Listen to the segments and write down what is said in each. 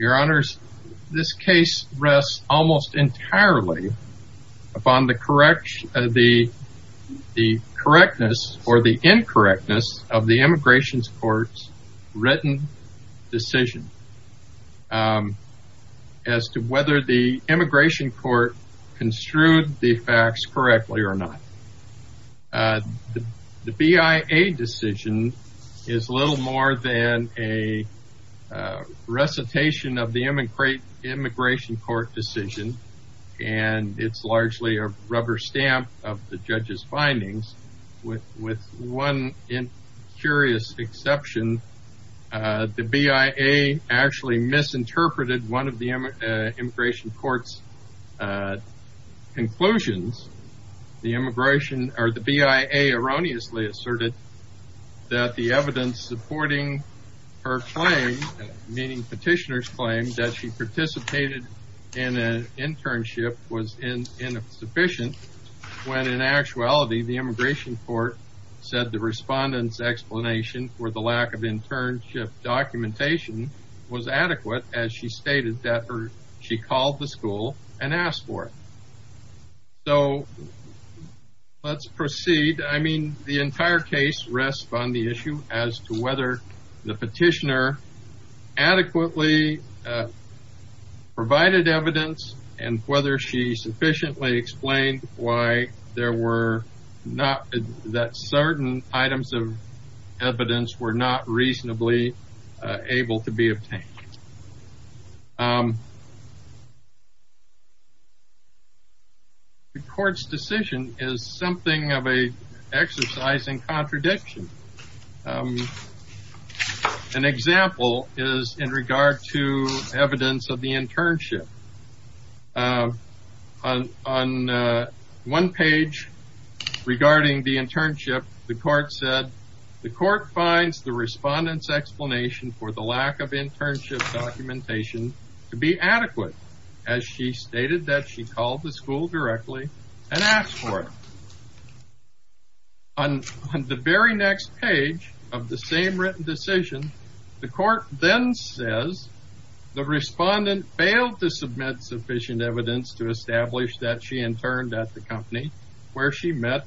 Your Honor, this case rests almost entirely upon the correctness or the incorrectness of the Immigration Court's written decision as to whether the Immigration Court construed the facts correctly or not. The BIA decision is little more than a recitation of the Immigration Court decision, and it's largely a rubber stamp of the judge's findings, with one curious exception. The BIA actually misinterpreted one of the Immigration Court's conclusions. The BIA erroneously asserted that the evidence supporting her claim, meaning petitioner's claim, that she participated in an internship was insufficient, when in actuality the Immigration Court said the respondent's explanation for the lack of internship documentation was adequate, as she stated that she called the school and asked for it. So, let's proceed. I mean, the entire case rests on the issue as to whether the petitioner adequately provided evidence and whether she sufficiently explained why there were not, that certain items of evidence were not reasonably able to be obtained. The court's decision is something of an exercise in contradiction. An example is in regard to evidence of the internship. On one page regarding the internship, the court said, the court finds the respondent's explanation for the lack of internship documentation to be adequate, as she stated that she called the school directly and asked for it. On the very next page of the same written decision, the court then says the respondent failed to submit sufficient evidence to establish that she interned at the company where she met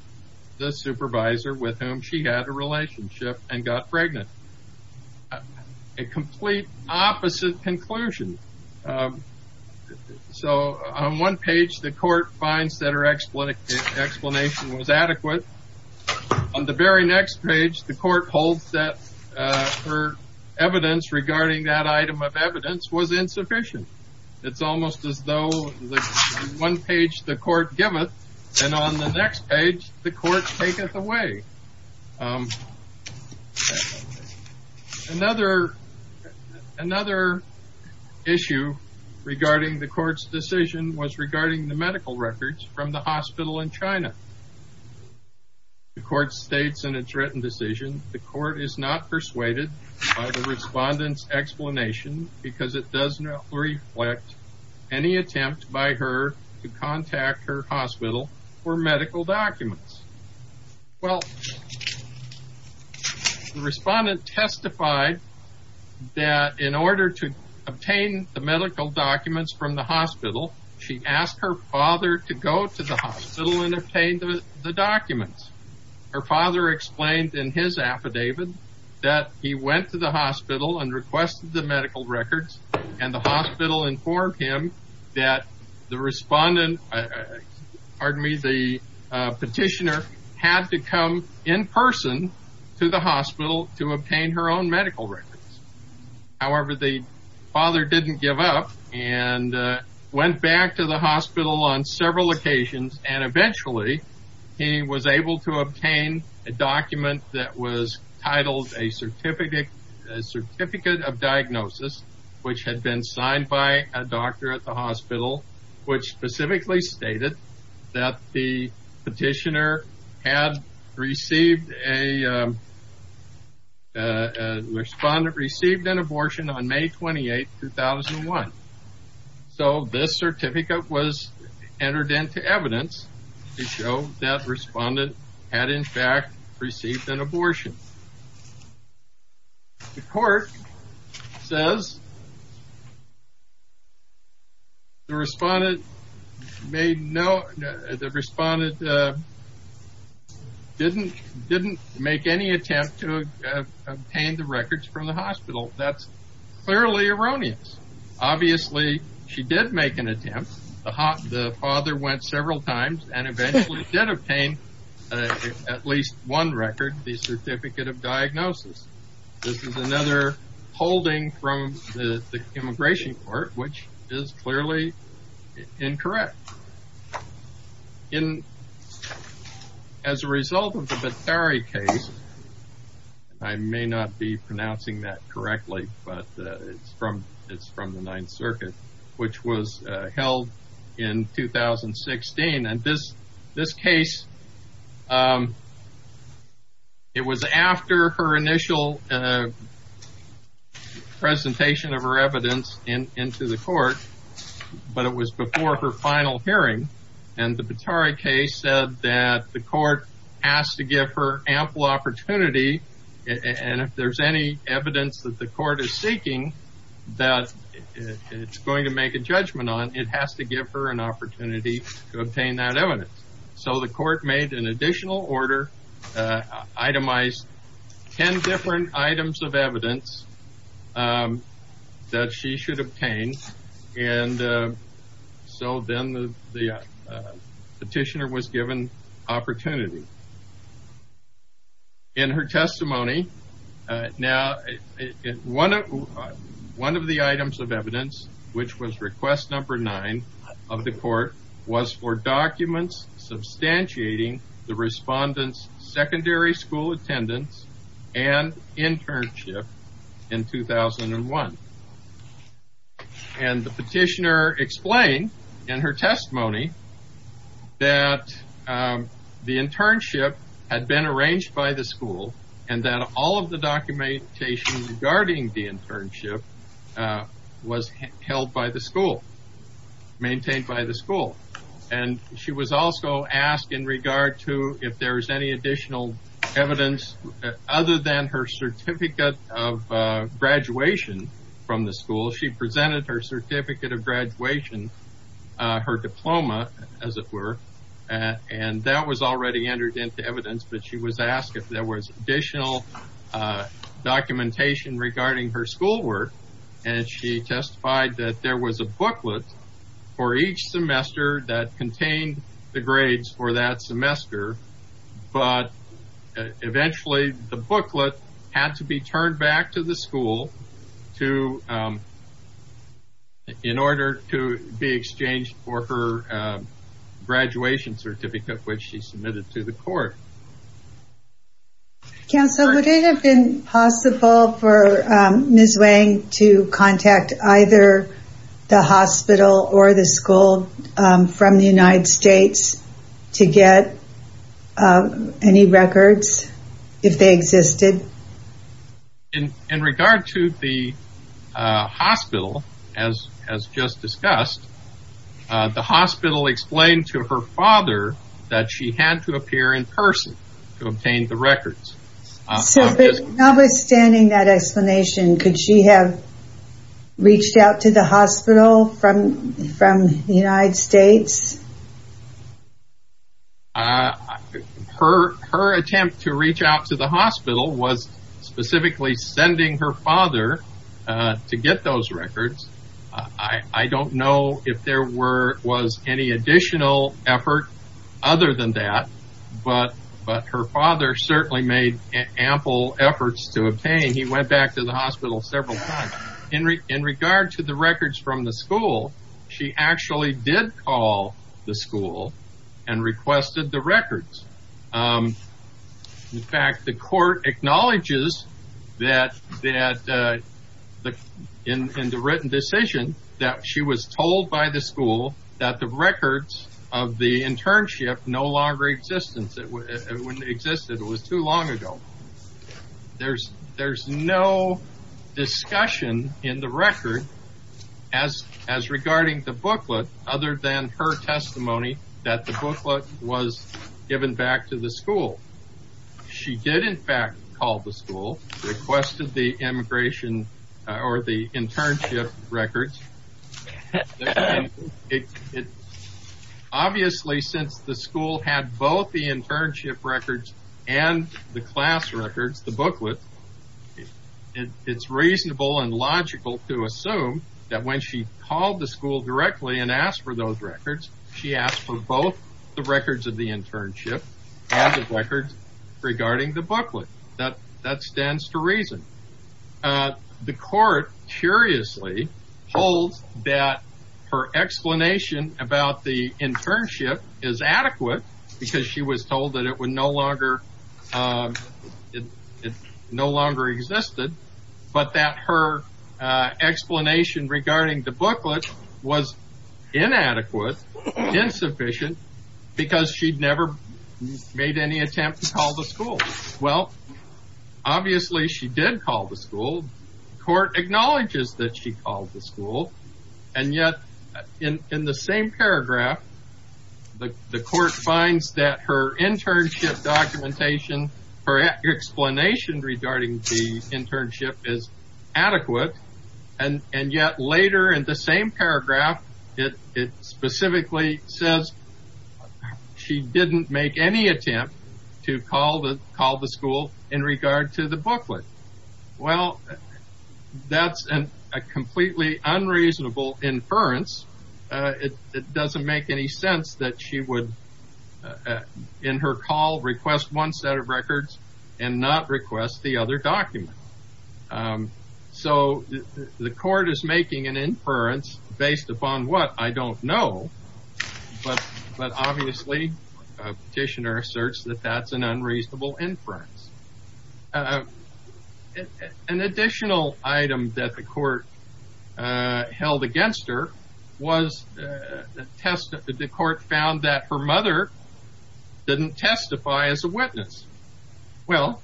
the supervisor with whom she had a relationship and got pregnant. A complete opposite conclusion. So, on one page, the court finds that her explanation was adequate. On the very next page, the court holds that her evidence regarding that item of evidence was insufficient. It's almost as though on one page the court giveth and on the next page the court taketh away. Another issue regarding the court's decision was regarding the medical records from the hospital in China. The court states in its written decision, the court is not persuaded by the respondent's explanation because it does not reflect any attempt by her to contact her hospital for medical documents. Well, the respondent testified that in order to obtain the medical documents from the hospital, she asked her father to go to the hospital and obtain the documents. Her father explained in his affidavit that he went to the hospital and requested the medical records. The petitioner had to come in person to the hospital to obtain her own medical records. However, the father didn't give up and went back to the hospital on several occasions and eventually, he was able to obtain a document that was titled a certificate of diagnosis which had been signed by a doctor at the hospital which specifically stated that the petitioner had received an abortion on May 28, 2001. So, this certificate was entered into evidence to show that respondent had in fact received an abortion. The court says the respondent didn't make any attempt to obtain the records from the hospital. That's clearly erroneous. Obviously, she did make an attempt. The father went several times and eventually did obtain at least one record, the certificate of diagnosis. This is another holding from the immigration court which is clearly incorrect. As a result of the Batari case, I may not be pronouncing that correctly, but it's from the which was held in 2016. This case, it was after her initial presentation of her evidence into the court, but it was before her final hearing. The Batari case said that the court asked to give her an opportunity to obtain that evidence. So, the court made an additional order, itemized 10 different items of evidence that she should obtain. So, then the petitioner was given opportunity. In her testimony, now, one of the items of evidence which was request number nine of the court was for documents substantiating the respondent's secondary school attendance and internship had been arranged by the school and that all of the documentation regarding the internship was held by the school, maintained by the school. She was also asked in regard to if there's any additional evidence other than her certificate of graduation from the school. She was already entered into evidence, but she was asked if there was additional documentation regarding her schoolwork and she testified that there was a booklet for each semester that contained the grades for that semester, but eventually the booklet had to be turned back to the school in order to be exchanged for her graduation certificate, which she submitted to the court. Counsel, would it have been possible for Ms. Wang to contact either the hospital or the school from the United States to get any records, if they existed? In regard to the hospital, as just discussed, the hospital explained to her father that she had to appear in person to obtain the records. So, notwithstanding that explanation, could she have reached out to the hospital from the United States? Her attempt to reach out to the hospital was specifically sending her father to get those records. I don't know if there was any additional effort other than that, but her father certainly made ample efforts to obtain. He went back to the hospital several times. In regard to the records from the school, she actually did call the school and requested the records. In fact, the court acknowledges that in the written decision that she was told by the school that the records of the internship no longer existed. It was too long ago. There's no discussion in the record, as regarding the booklet, other than her testimony that the booklet was given back to the school. She did, in fact, call the school, requested the immigration or the internship records. Obviously, since the school had both the internship records and the class records, the booklet, it's reasonable and logical to assume that when she called the school directly and asked for those records, she asked for both the records of the internship and the records regarding the booklet. That stands to reason. The court curiously holds that her explanation about the internship is adequate because she was told that it no longer existed, but that her explanation regarding the booklet was inadequate, insufficient, because she'd never made any attempt to call the school. Well, obviously, she did call the school. The court acknowledges that she called the school, and yet in the same paragraph, the court finds that her internship documentation, her explanation regarding the internship is inadequate. She did not make any attempt to call the school in regard to the booklet. Well, that's a completely unreasonable inference. It doesn't make any sense that she would, in her call, request one set of records and not request the other document. So, the court is making an inference based upon what? I don't know, but obviously, a petitioner asserts that that's an unreasonable inference. An additional item that the court held against her was the test that the court found that her mother didn't testify as a witness. Well,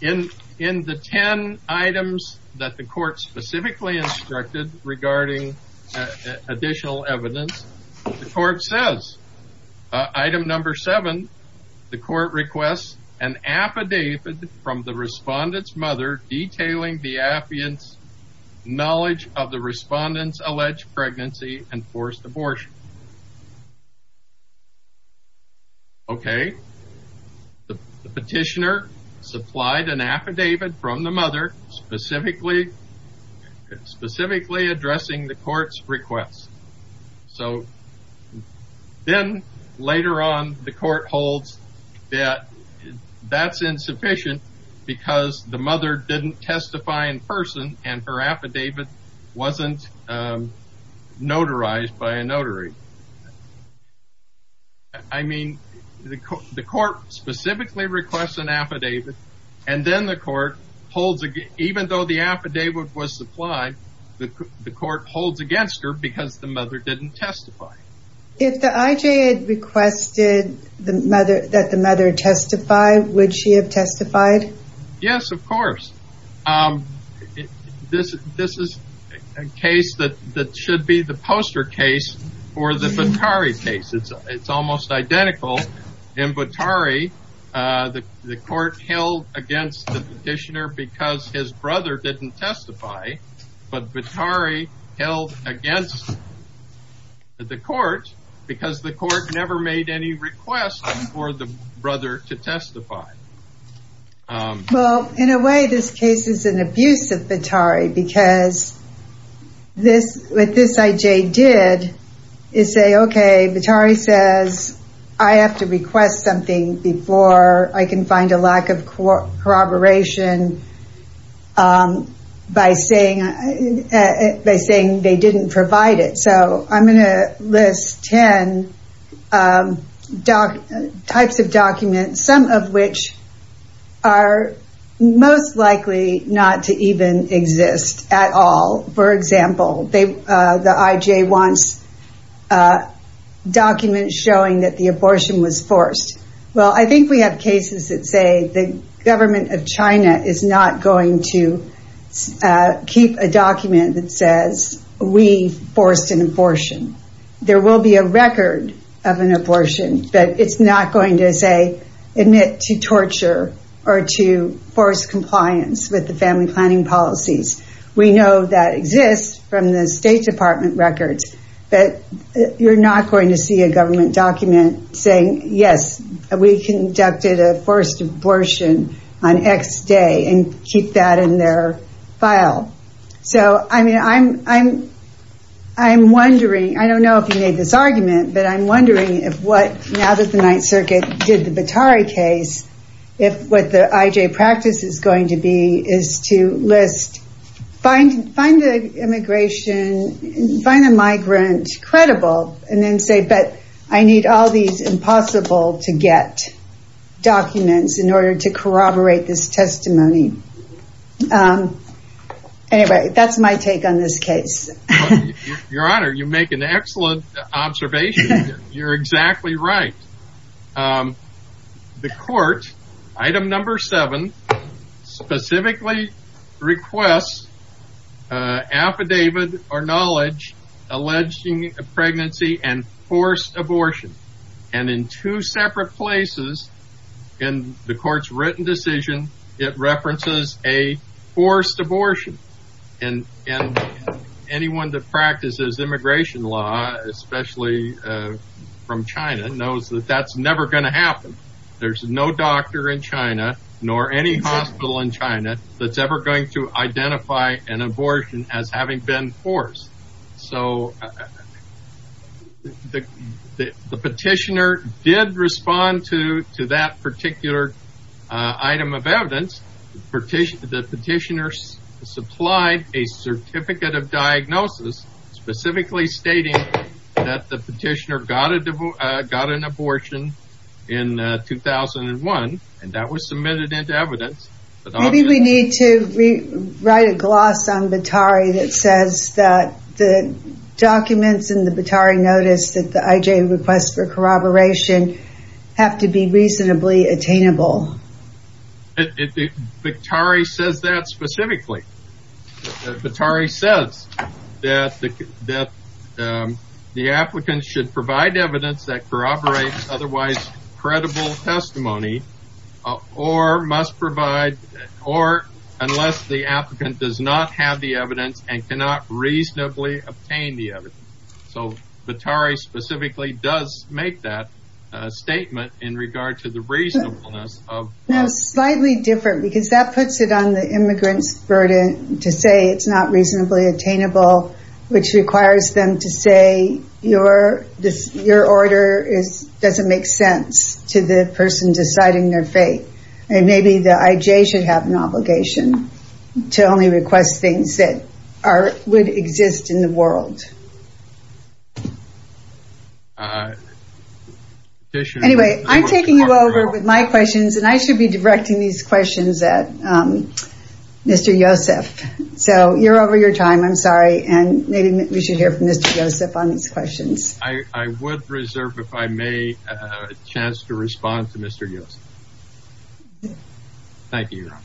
in the 10 items that the court specifically instructed regarding additional evidence, the court says, item number seven, the court requests an affidavit from the respondent's mother detailing the affidavit's knowledge of the respondent's pregnancy and forced abortion. Okay, the petitioner supplied an affidavit from the mother specifically addressing the court's request. So, then later on, the court holds that that's insufficient because the mother didn't testify in person and her affidavit wasn't notarized by a notary. I mean, the court specifically requests an affidavit and then the court holds, even though the affidavit was supplied, the court holds against her because the mother didn't testify. If the IJ had requested that the mother testify, would she have testified? Yes, of course. This is a case that should be the poster case for the Batari case. It's almost identical. In Batari, the court held against the petitioner because his brother didn't testify, but Batari held against the court because the court never made any requests for the brother to testify. Well, in a way, this case is an abuse of Batari because what this IJ did is say, okay, Batari says I have to request something before I can find a lack of corroboration by saying they didn't provide it. So, I'm going to list ten types of documents, some of which are most likely not to even exist at all. For example, the IJ wants documents showing that the abortion was forced. Well, I think we have cases that say the government of China is not going to keep a document that says we forced an abortion. There will be a record of an abortion, but it's not going to say admit to torture or to force compliance with the family planning policies. We know that exists from the State Department records, but you're not going to see a government document saying, yes, we conducted a forced abortion on X day and keep that in their file. I don't know if you made this argument, but I'm wondering now that the Ninth Circuit did the Batari case, if what the IJ practice is going to be is to list, find the immigration, find the migrant credible, and then say, but I need all possible to get documents in order to corroborate this testimony. That's my take on this case. Your Honor, you make an excellent observation. You're exactly right. The court, item number seven, specifically requests affidavit or knowledge alleging pregnancy and forced abortion. In two separate places in the court's written decision, it references a forced abortion. Anyone that practices immigration law, especially from China, knows that that's never going to happen. There's no doctor in China, nor any hospital in China, that's ever going to identify an abortion as having been forced. The petitioner did respond to that particular item of evidence. The petitioner supplied a certificate of diagnosis specifically stating that the petitioner got an abortion in 2001, and that was submitted into evidence. Maybe we need to write a gloss on Batari that says that the documents in the Batari notice that the IJ requests for corroboration have to be reasonably attainable. Batari says that specifically. Batari says that that the applicant should provide evidence that corroborates otherwise credible testimony, or must provide, or unless the applicant does not have the evidence and cannot reasonably obtain the evidence. So, Batari specifically does make that statement in regard to the reasonableness. Slightly different, because that puts it on the immigrant's burden to say it's not reasonably attainable, which requires them to say your order doesn't make sense to the person deciding their fate. Maybe the IJ should have an obligation to only request things that would exist in the world. Anyway, I'm taking you over with my questions, and I should be directing these and maybe we should hear from Mr. Yosef on these questions. I would reserve, if I may, a chance to respond to Mr. Yosef. Thank you, Your Honor.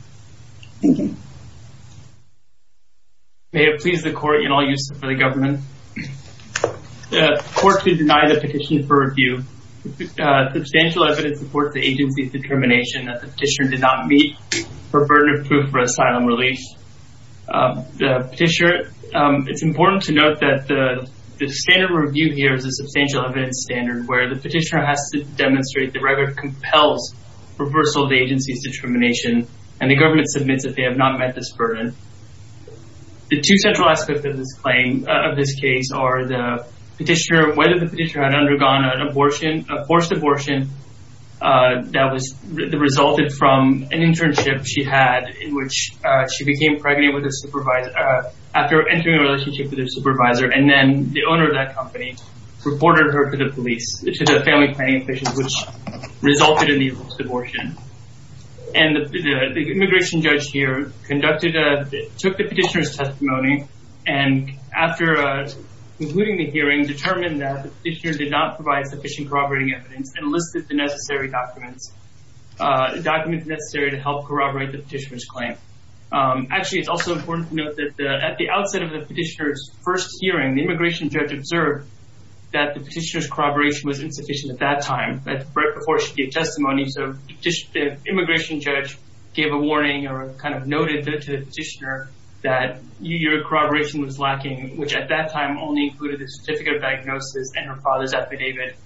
Thank you. May it please the court in all use for the government. The court should deny the petition for review. Substantial evidence supports the agency's determination that the petitioner did not meet her burden of proof for asylum relief. It's important to note that the standard review here is a substantial evidence standard, where the petitioner has to demonstrate the record compels reversal of the agency's determination, and the government submits that they have not met this burden. The two central aspects of this claim, of this case, are whether the petitioner had undergone an abortion, a forced abortion, that resulted from an internship she had in which she became pregnant with a supervisor after entering a relationship with a supervisor, and then the owner of that company reported her to the police, to the family planning officials, which resulted in the abortion. And the immigration judge here took the petitioner's testimony, and after concluding the hearing, determined that the petitioner did not provide sufficient corroborating evidence, and listed the necessary documents, documents necessary to help corroborate the petitioner's claim. Actually, it's also important to note that at the outset of the petitioner's first hearing, the immigration judge observed that the petitioner's corroboration was insufficient at that time, that right before she gave testimony, so the immigration judge gave a warning or kind of noted to the petitioner that your corroboration was lacking, which at that time only included the certificate of diagnosis and her father's epidemic.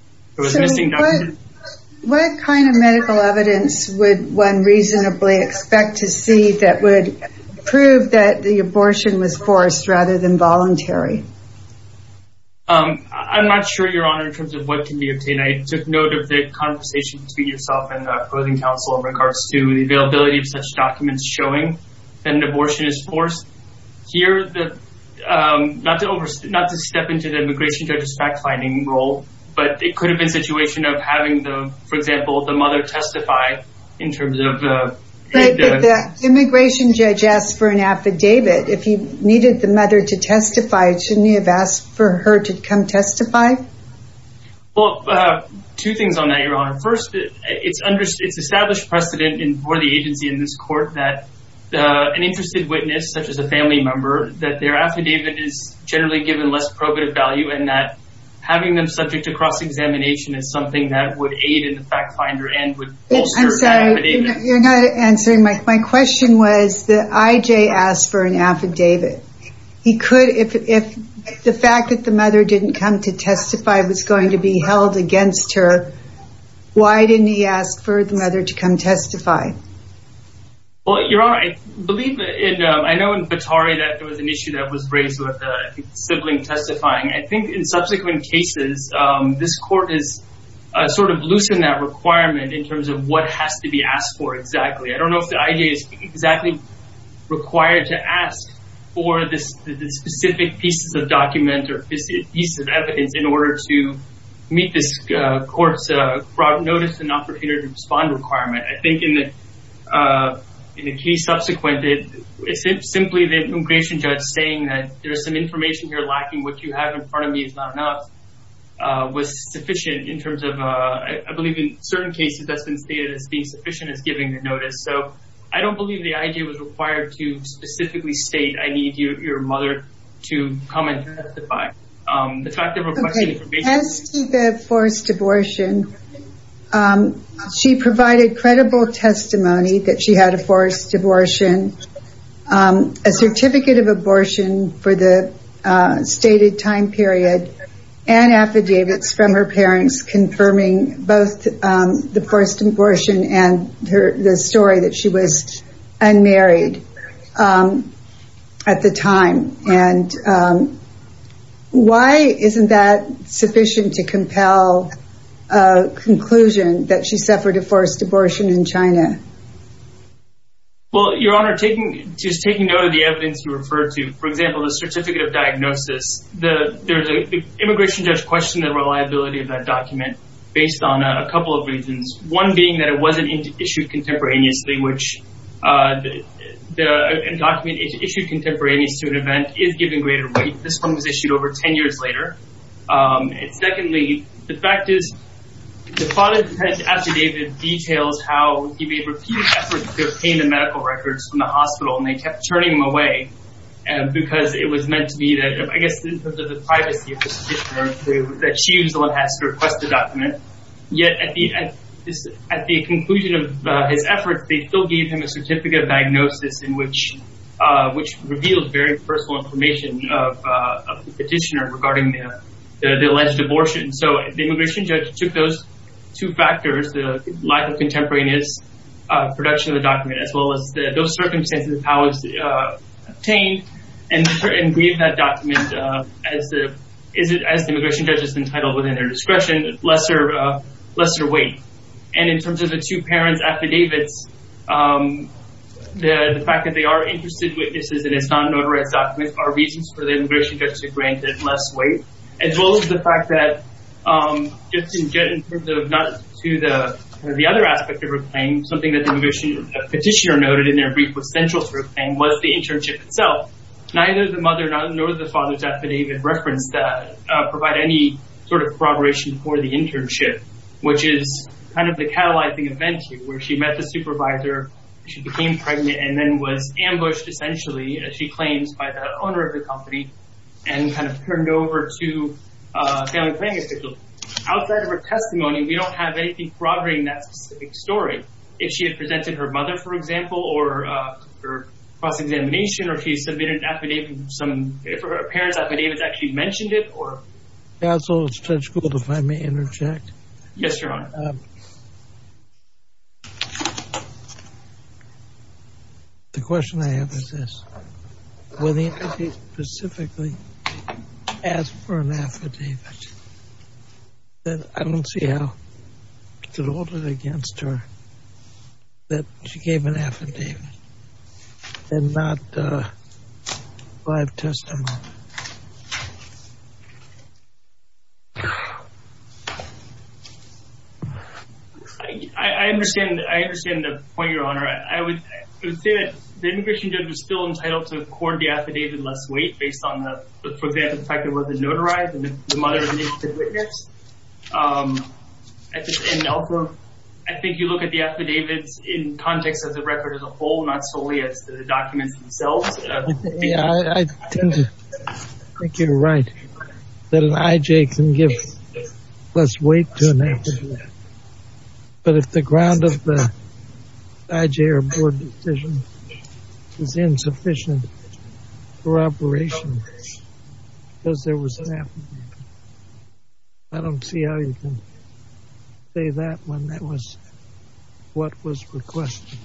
What kind of medical evidence would one reasonably expect to see that would prove that the abortion was forced rather than voluntary? I'm not sure, Your Honor, in terms of what can be obtained. I don't think there's a probability of such documents showing that an abortion is forced. Here, not to step into the immigration judge's fact-finding role, but it could have been a situation of having, for example, the mother testify in terms of... But the immigration judge asked for an affidavit. If he needed the mother to testify, shouldn't he have asked for her to come testify? Well, two things on that, Your Honor. First, it's established precedent for the agency in this court that an interested witness, such as a family member, that their affidavit is generally given less probative value and that having them subject to cross-examination is something that would aid in the fact-finder and would bolster that affidavit. I'm sorry, you're not answering my question. My question was that I.J. asked for an affidavit. He could, if the fact that the mother didn't come to testify was going to be held against her, why didn't he ask for the mother to come testify? Well, Your Honor, I believe in... I know in Batari that there was an issue that was raised with the sibling testifying. I think in subsequent cases, this court has sort of loosened that requirement in terms of what has to be asked for exactly. I don't know if the I.J. is exactly required to ask for the specific pieces of document or pieces of evidence in order to meet this court's notice and opportunity to respond requirement. I think in the case subsequent, simply the immigration judge saying that there is some information here lacking, what you have in front of me is not enough, was sufficient in terms of... I believe in certain cases that's been stated as being sufficient as giving the notice. So I don't believe the I.J. was required to specifically state, I need your mother to come and testify. As to the forced abortion, she provided credible testimony that she had a forced abortion, a certificate of abortion for the stated time period, and affidavits from her parents confirming both the forced abortion and the story that she was unmarried at the time. And why isn't that sufficient to compel a conclusion that she suffered a forced abortion in China? Well, Your Honor, just taking note of the evidence you referred to, for example, the certificate of diagnosis, the immigration judge questioned the reliability of that document based on a couple of reasons. One being that it wasn't issued contemporaneously, which the document issued contemporaneously to an event is given greater weight. This one was issued over 10 years later. Secondly, the fact is the father's affidavit details how he made repeated efforts to obtain the medical records from the hospital, and they kept turning them away because it was meant to be, I guess, the privacy of the petitioner, that she was the one who has to request the document. Yet, at the conclusion of his efforts, they still gave him a certificate of diagnosis, which revealed very personal information of the petitioner regarding the alleged abortion. So the immigration judge took those two factors, the lack of contemporaneous production of the document, as well as those circumstances of how it was obtained, and grieved that document as the immigration judge has entitled within their discretion, lesser weight. And in terms of the two parents' affidavits, the fact that they are interested witnesses and it's not a notarized document are reasons for the immigration judge to grant it less weight, as well as the fact that just in terms of not to the other aspect of her claim, something that the petitioner noted in their brief was central to her claim was the internship itself. Neither the mother nor the father's affidavit referenced that, provide any sort of corroboration for the internship, which is kind of the catalyzing event here, where she met the supervisor, she became pregnant, and then was ambushed essentially, as she claims, by the owner of the company, and kind of turned over to a family planning official. Outside of her testimony, we don't have anything corroborating that specific story. If she had presented her mother, for example, or her cross-examination, or if she submitted an affidavit from some, if her parents' affidavits actually mentioned it, or… Counsel, is it possible if I may interject? Yes, Your Honor. The question I have is this. Will the interviewee specifically ask for an affidavit? I don't see how to hold it against her that she gave an affidavit and not a live testimony. I understand the point, Your Honor. I would say that the immigration judge was still entitled to accord the affidavit less weight based on the, for example, the fact that it was a notarized and the mother of the witness. And also, I think you look at the affidavits in context of the record as a whole, not solely as the documents themselves. I think you're right, that an IJ can give less weight to an affidavit. But if the ground of the IJ or board decision is insufficient corroboration, because there was an affidavit, I don't see how you can say that when that was what was requested.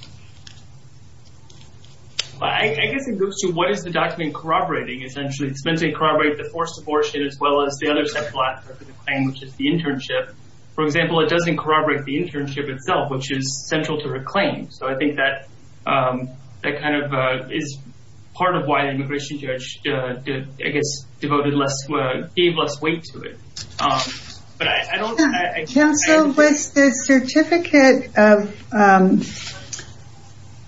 I guess it goes to what is the document corroborating, essentially. Does it corroborate the forced abortion as well as the other central aspect of the claim, which is the internship? For example, it doesn't corroborate the internship itself, which is central to her claim. So I think that is part of why the immigration judge, I guess, gave less weight to it. But I don't, I can't say. Was the certificate of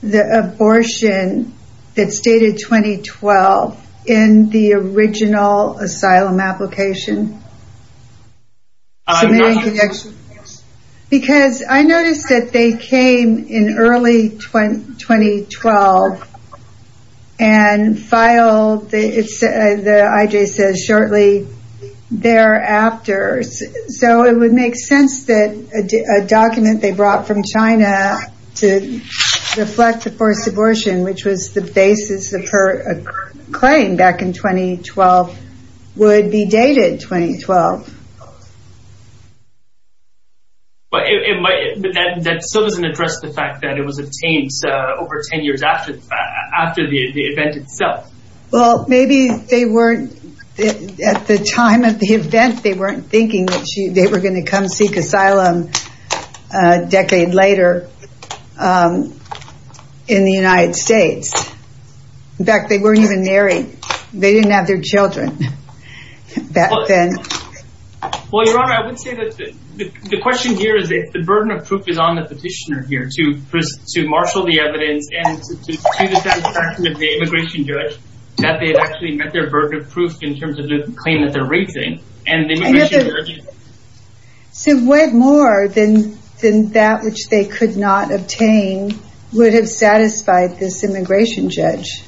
the abortion that stated 2012 in the original asylum application? Because I noticed that they came in early 2012 and filed, the IJ says shortly thereafter. So it would make sense that a document they brought from China to reflect the forced abortion, which was the basis of her claim back in 2012, would be dated 2012. But that still doesn't address the fact that it was obtained over 10 years after the event itself. Well, maybe they weren't, at the time of the event, they weren't thinking that they were going to come seek asylum a decade later in the United States. In fact, they weren't even married. They didn't have their children back then. Well, Your Honor, I would say that the question here is if the burden of proof is on the petitioner to marshal the evidence and to the satisfaction of the immigration judge, that they've actually met their burden of proof in terms of the claim that they're raising. So what more than that which they could not obtain would have satisfied this immigration judge?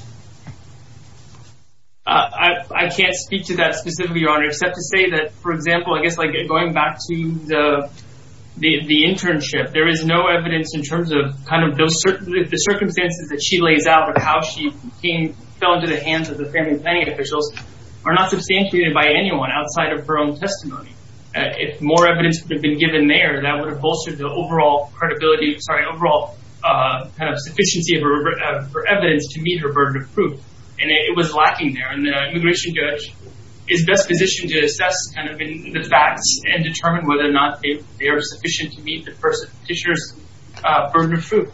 I can't speak to that specifically, Your Honor, except to say that, for example, I guess like kind of the circumstances that she lays out of how she fell into the hands of the family planning officials are not substantiated by anyone outside of her own testimony. If more evidence would have been given there, that would have bolstered the overall kind of sufficiency of her evidence to meet her burden of proof. And it was lacking there. And the immigration judge is best positioned to assess kind of the facts and determine whether or not they are sufficient to meet the petitioner's burden of proof.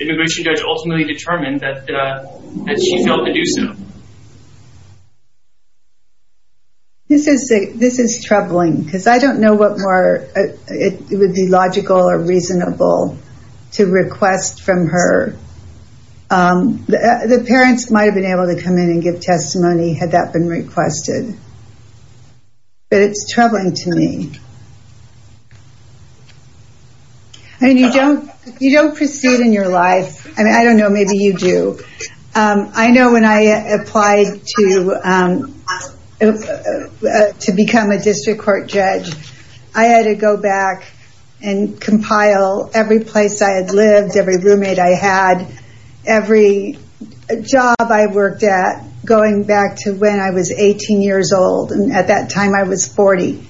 Immigration judge ultimately determined that she failed to do so. This is troubling because I don't know what more it would be logical or reasonable to request from her. The parents might have been able to come in and give testimony had that been requested. But it's troubling to me. You don't proceed in your life. I don't know, maybe you do. I know when I applied to become a district court judge, I had to go back and compile every place I had lived, every roommate I had, every job I worked at, going back to when I was 18 years old. And at that time I was 40.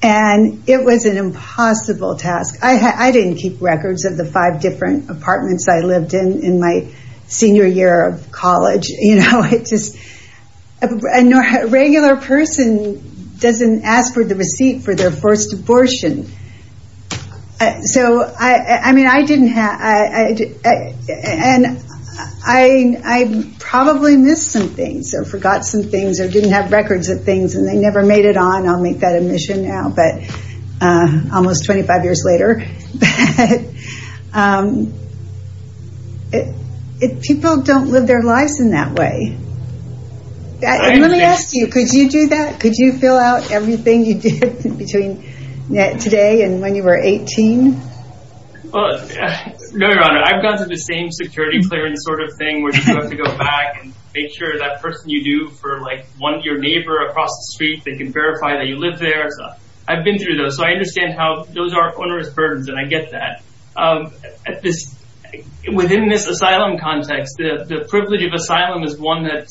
And it was an impossible task. I didn't keep records of the five different apartments I lived in in my senior year of college. A regular person doesn't ask for the receipt for their first abortion. I probably missed some things or forgot some things or didn't have records of things and they never made it on. I'll make that omission now. Almost 25 years later. People don't live their lives in that way. Let me ask you, could you do that? Could you fill out everything you did between today and when you were 18? No, Your Honor, I've gone through the same security clearance sort of thing where you have to go back and make sure that person you do for your neighbor across the street, they can verify that you live there. I've been through those. So I understand how those are onerous burdens and I get that. Within this asylum context, the privilege of asylum is one that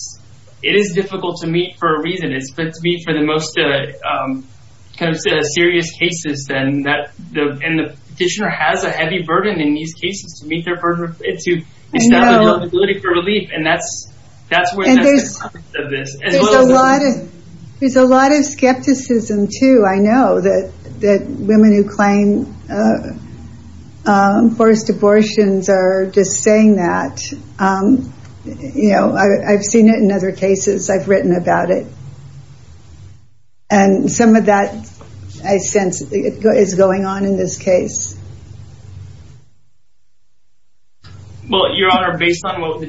is difficult to meet for a reason. It's meant to be for the most serious cases. And the petitioner has a heavy burden in these cases to meet their burden to establish eligibility for relief. There's a lot of skepticism too, I know, that women who claim that forced abortions are just saying that. I've seen it in other cases, I've written about it. And some of that I sense is going on in this case. Well, Your Honor, based on the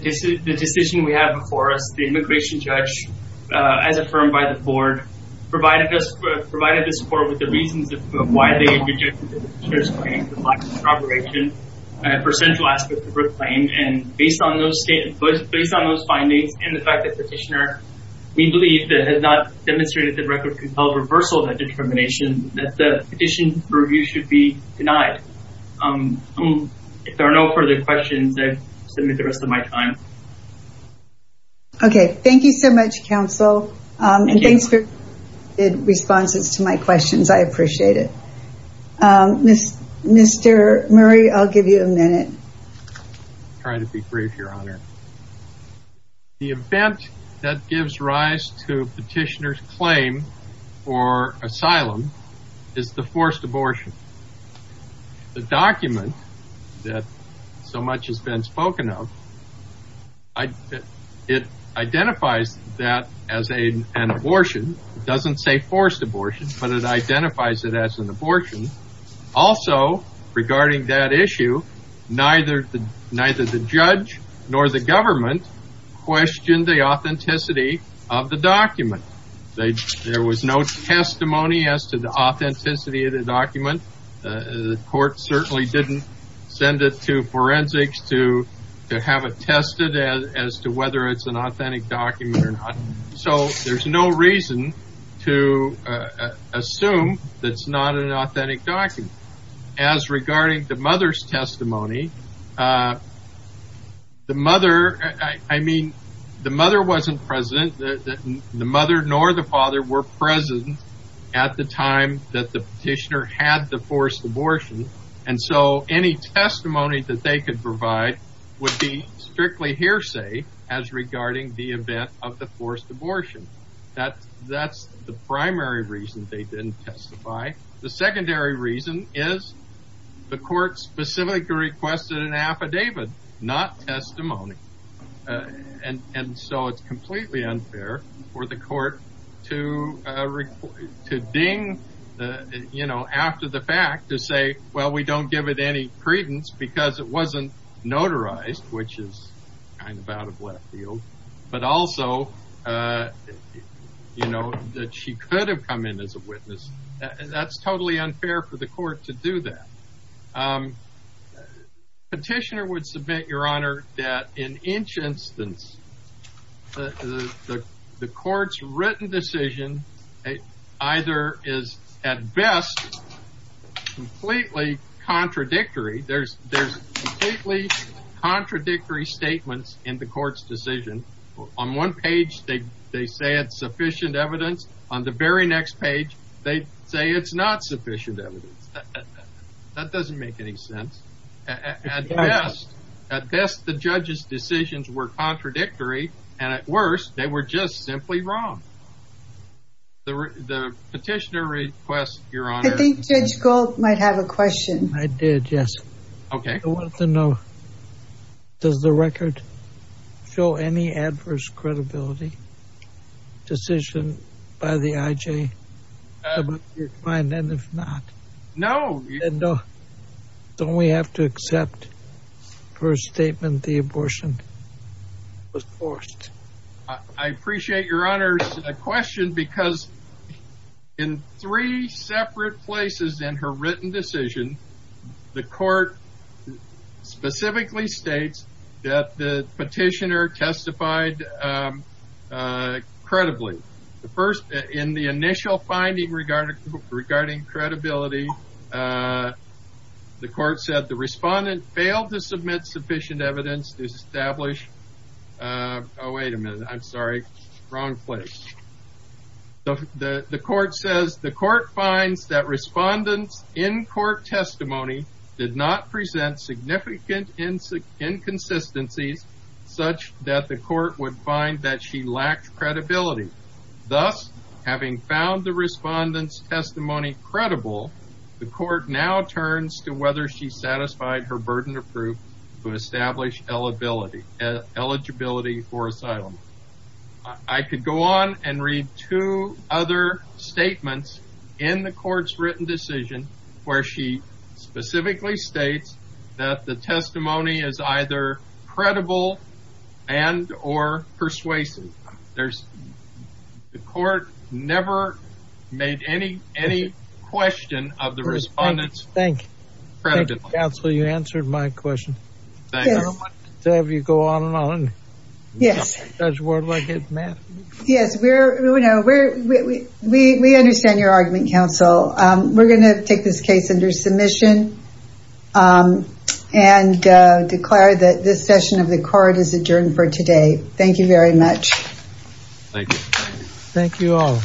decision we have before us, the immigration judge, as affirmed by the board, provided us, provided the support with the reasons of why they rejected the petitioner's claim, the lack of corroboration, and a percentual aspect of her claim. And based on those findings, and the fact that the petitioner, we believe that has not demonstrated the record of compelled reversal of that determination, that the petition for review should be denied. If there are no further questions, I submit the rest of my time. Okay, thank you so much, counsel. And thanks for the responses to my questions. I appreciate it. Mr. Murray, I'll give you a minute. Try to be brief, Your Honor. The event that gives rise to petitioner's claim for asylum is the forced abortion. The document that so much has been spoken of, it identifies that as an abortion. It doesn't say forced abortion, but it identifies it as an abortion. Also, regarding that issue, neither the judge nor the government questioned the authenticity of the document. The court certainly didn't send it to forensics to have it tested as to whether it's an authentic document or not. So there's no reason to assume that it's not an authentic document. As regarding the mother's testimony, the mother, I mean, the mother wasn't present. The mother nor the father were present at the time that the petitioner had the forced abortion. And so any testimony that they could provide would be strictly hearsay as regarding the event of the forced abortion. That's the primary reason they didn't testify. The secondary reason is the court specifically requested an affidavit, not testimony. And so it's completely unfair for the court to ding after the fact to say, well, we don't give it any credence because it wasn't notarized, which is kind of out of left field. But also, you know, that she could have come in as a witness. That's totally unfair for the court to do that. Petitioner would submit, your honor, that in each instance, the court's written decision either is at best completely contradictory. There's completely contradictory statements in the court's decision. On one page, they say it's sufficient evidence. On the very next page, they say it's not sufficient evidence. That doesn't make any sense. At best, the judge's decisions were contradictory. And at worst, they were just simply wrong. The petitioner requests, your honor. I think Judge Gold might have a question. I did, yes. Okay. I wanted to know, does the record show any adverse credibility decision by the IJ about your client? And if not? No. And don't we have to accept her statement the abortion was forced? I appreciate your honor's question because in three separate places in her written decision, the court specifically states that the petitioner testified credibly. The first, in the initial finding regarding credibility, the court said the respondent failed to submit sufficient evidence to establish, oh, wait a minute. I'm sorry. Wrong place. The court says the court finds that respondents in court testimony did not present significant inconsistencies such that the court would find that she lacked credibility. Thus, having found the respondent's testimony credible, the court now turns to whether she satisfied her burden of proof to establish eligibility for asylum. I could go on and read two other statements in the court's written decision where she specifically states that the testimony is either credible and or persuasive. The court never made any question of the respondent's credibility. Thank you, counsel. You answered my question. We understand your argument, counsel. We're going to take this case under submission and declare that this session of the court is adjourned for today. Thank you very much. Thank you. Thank you all.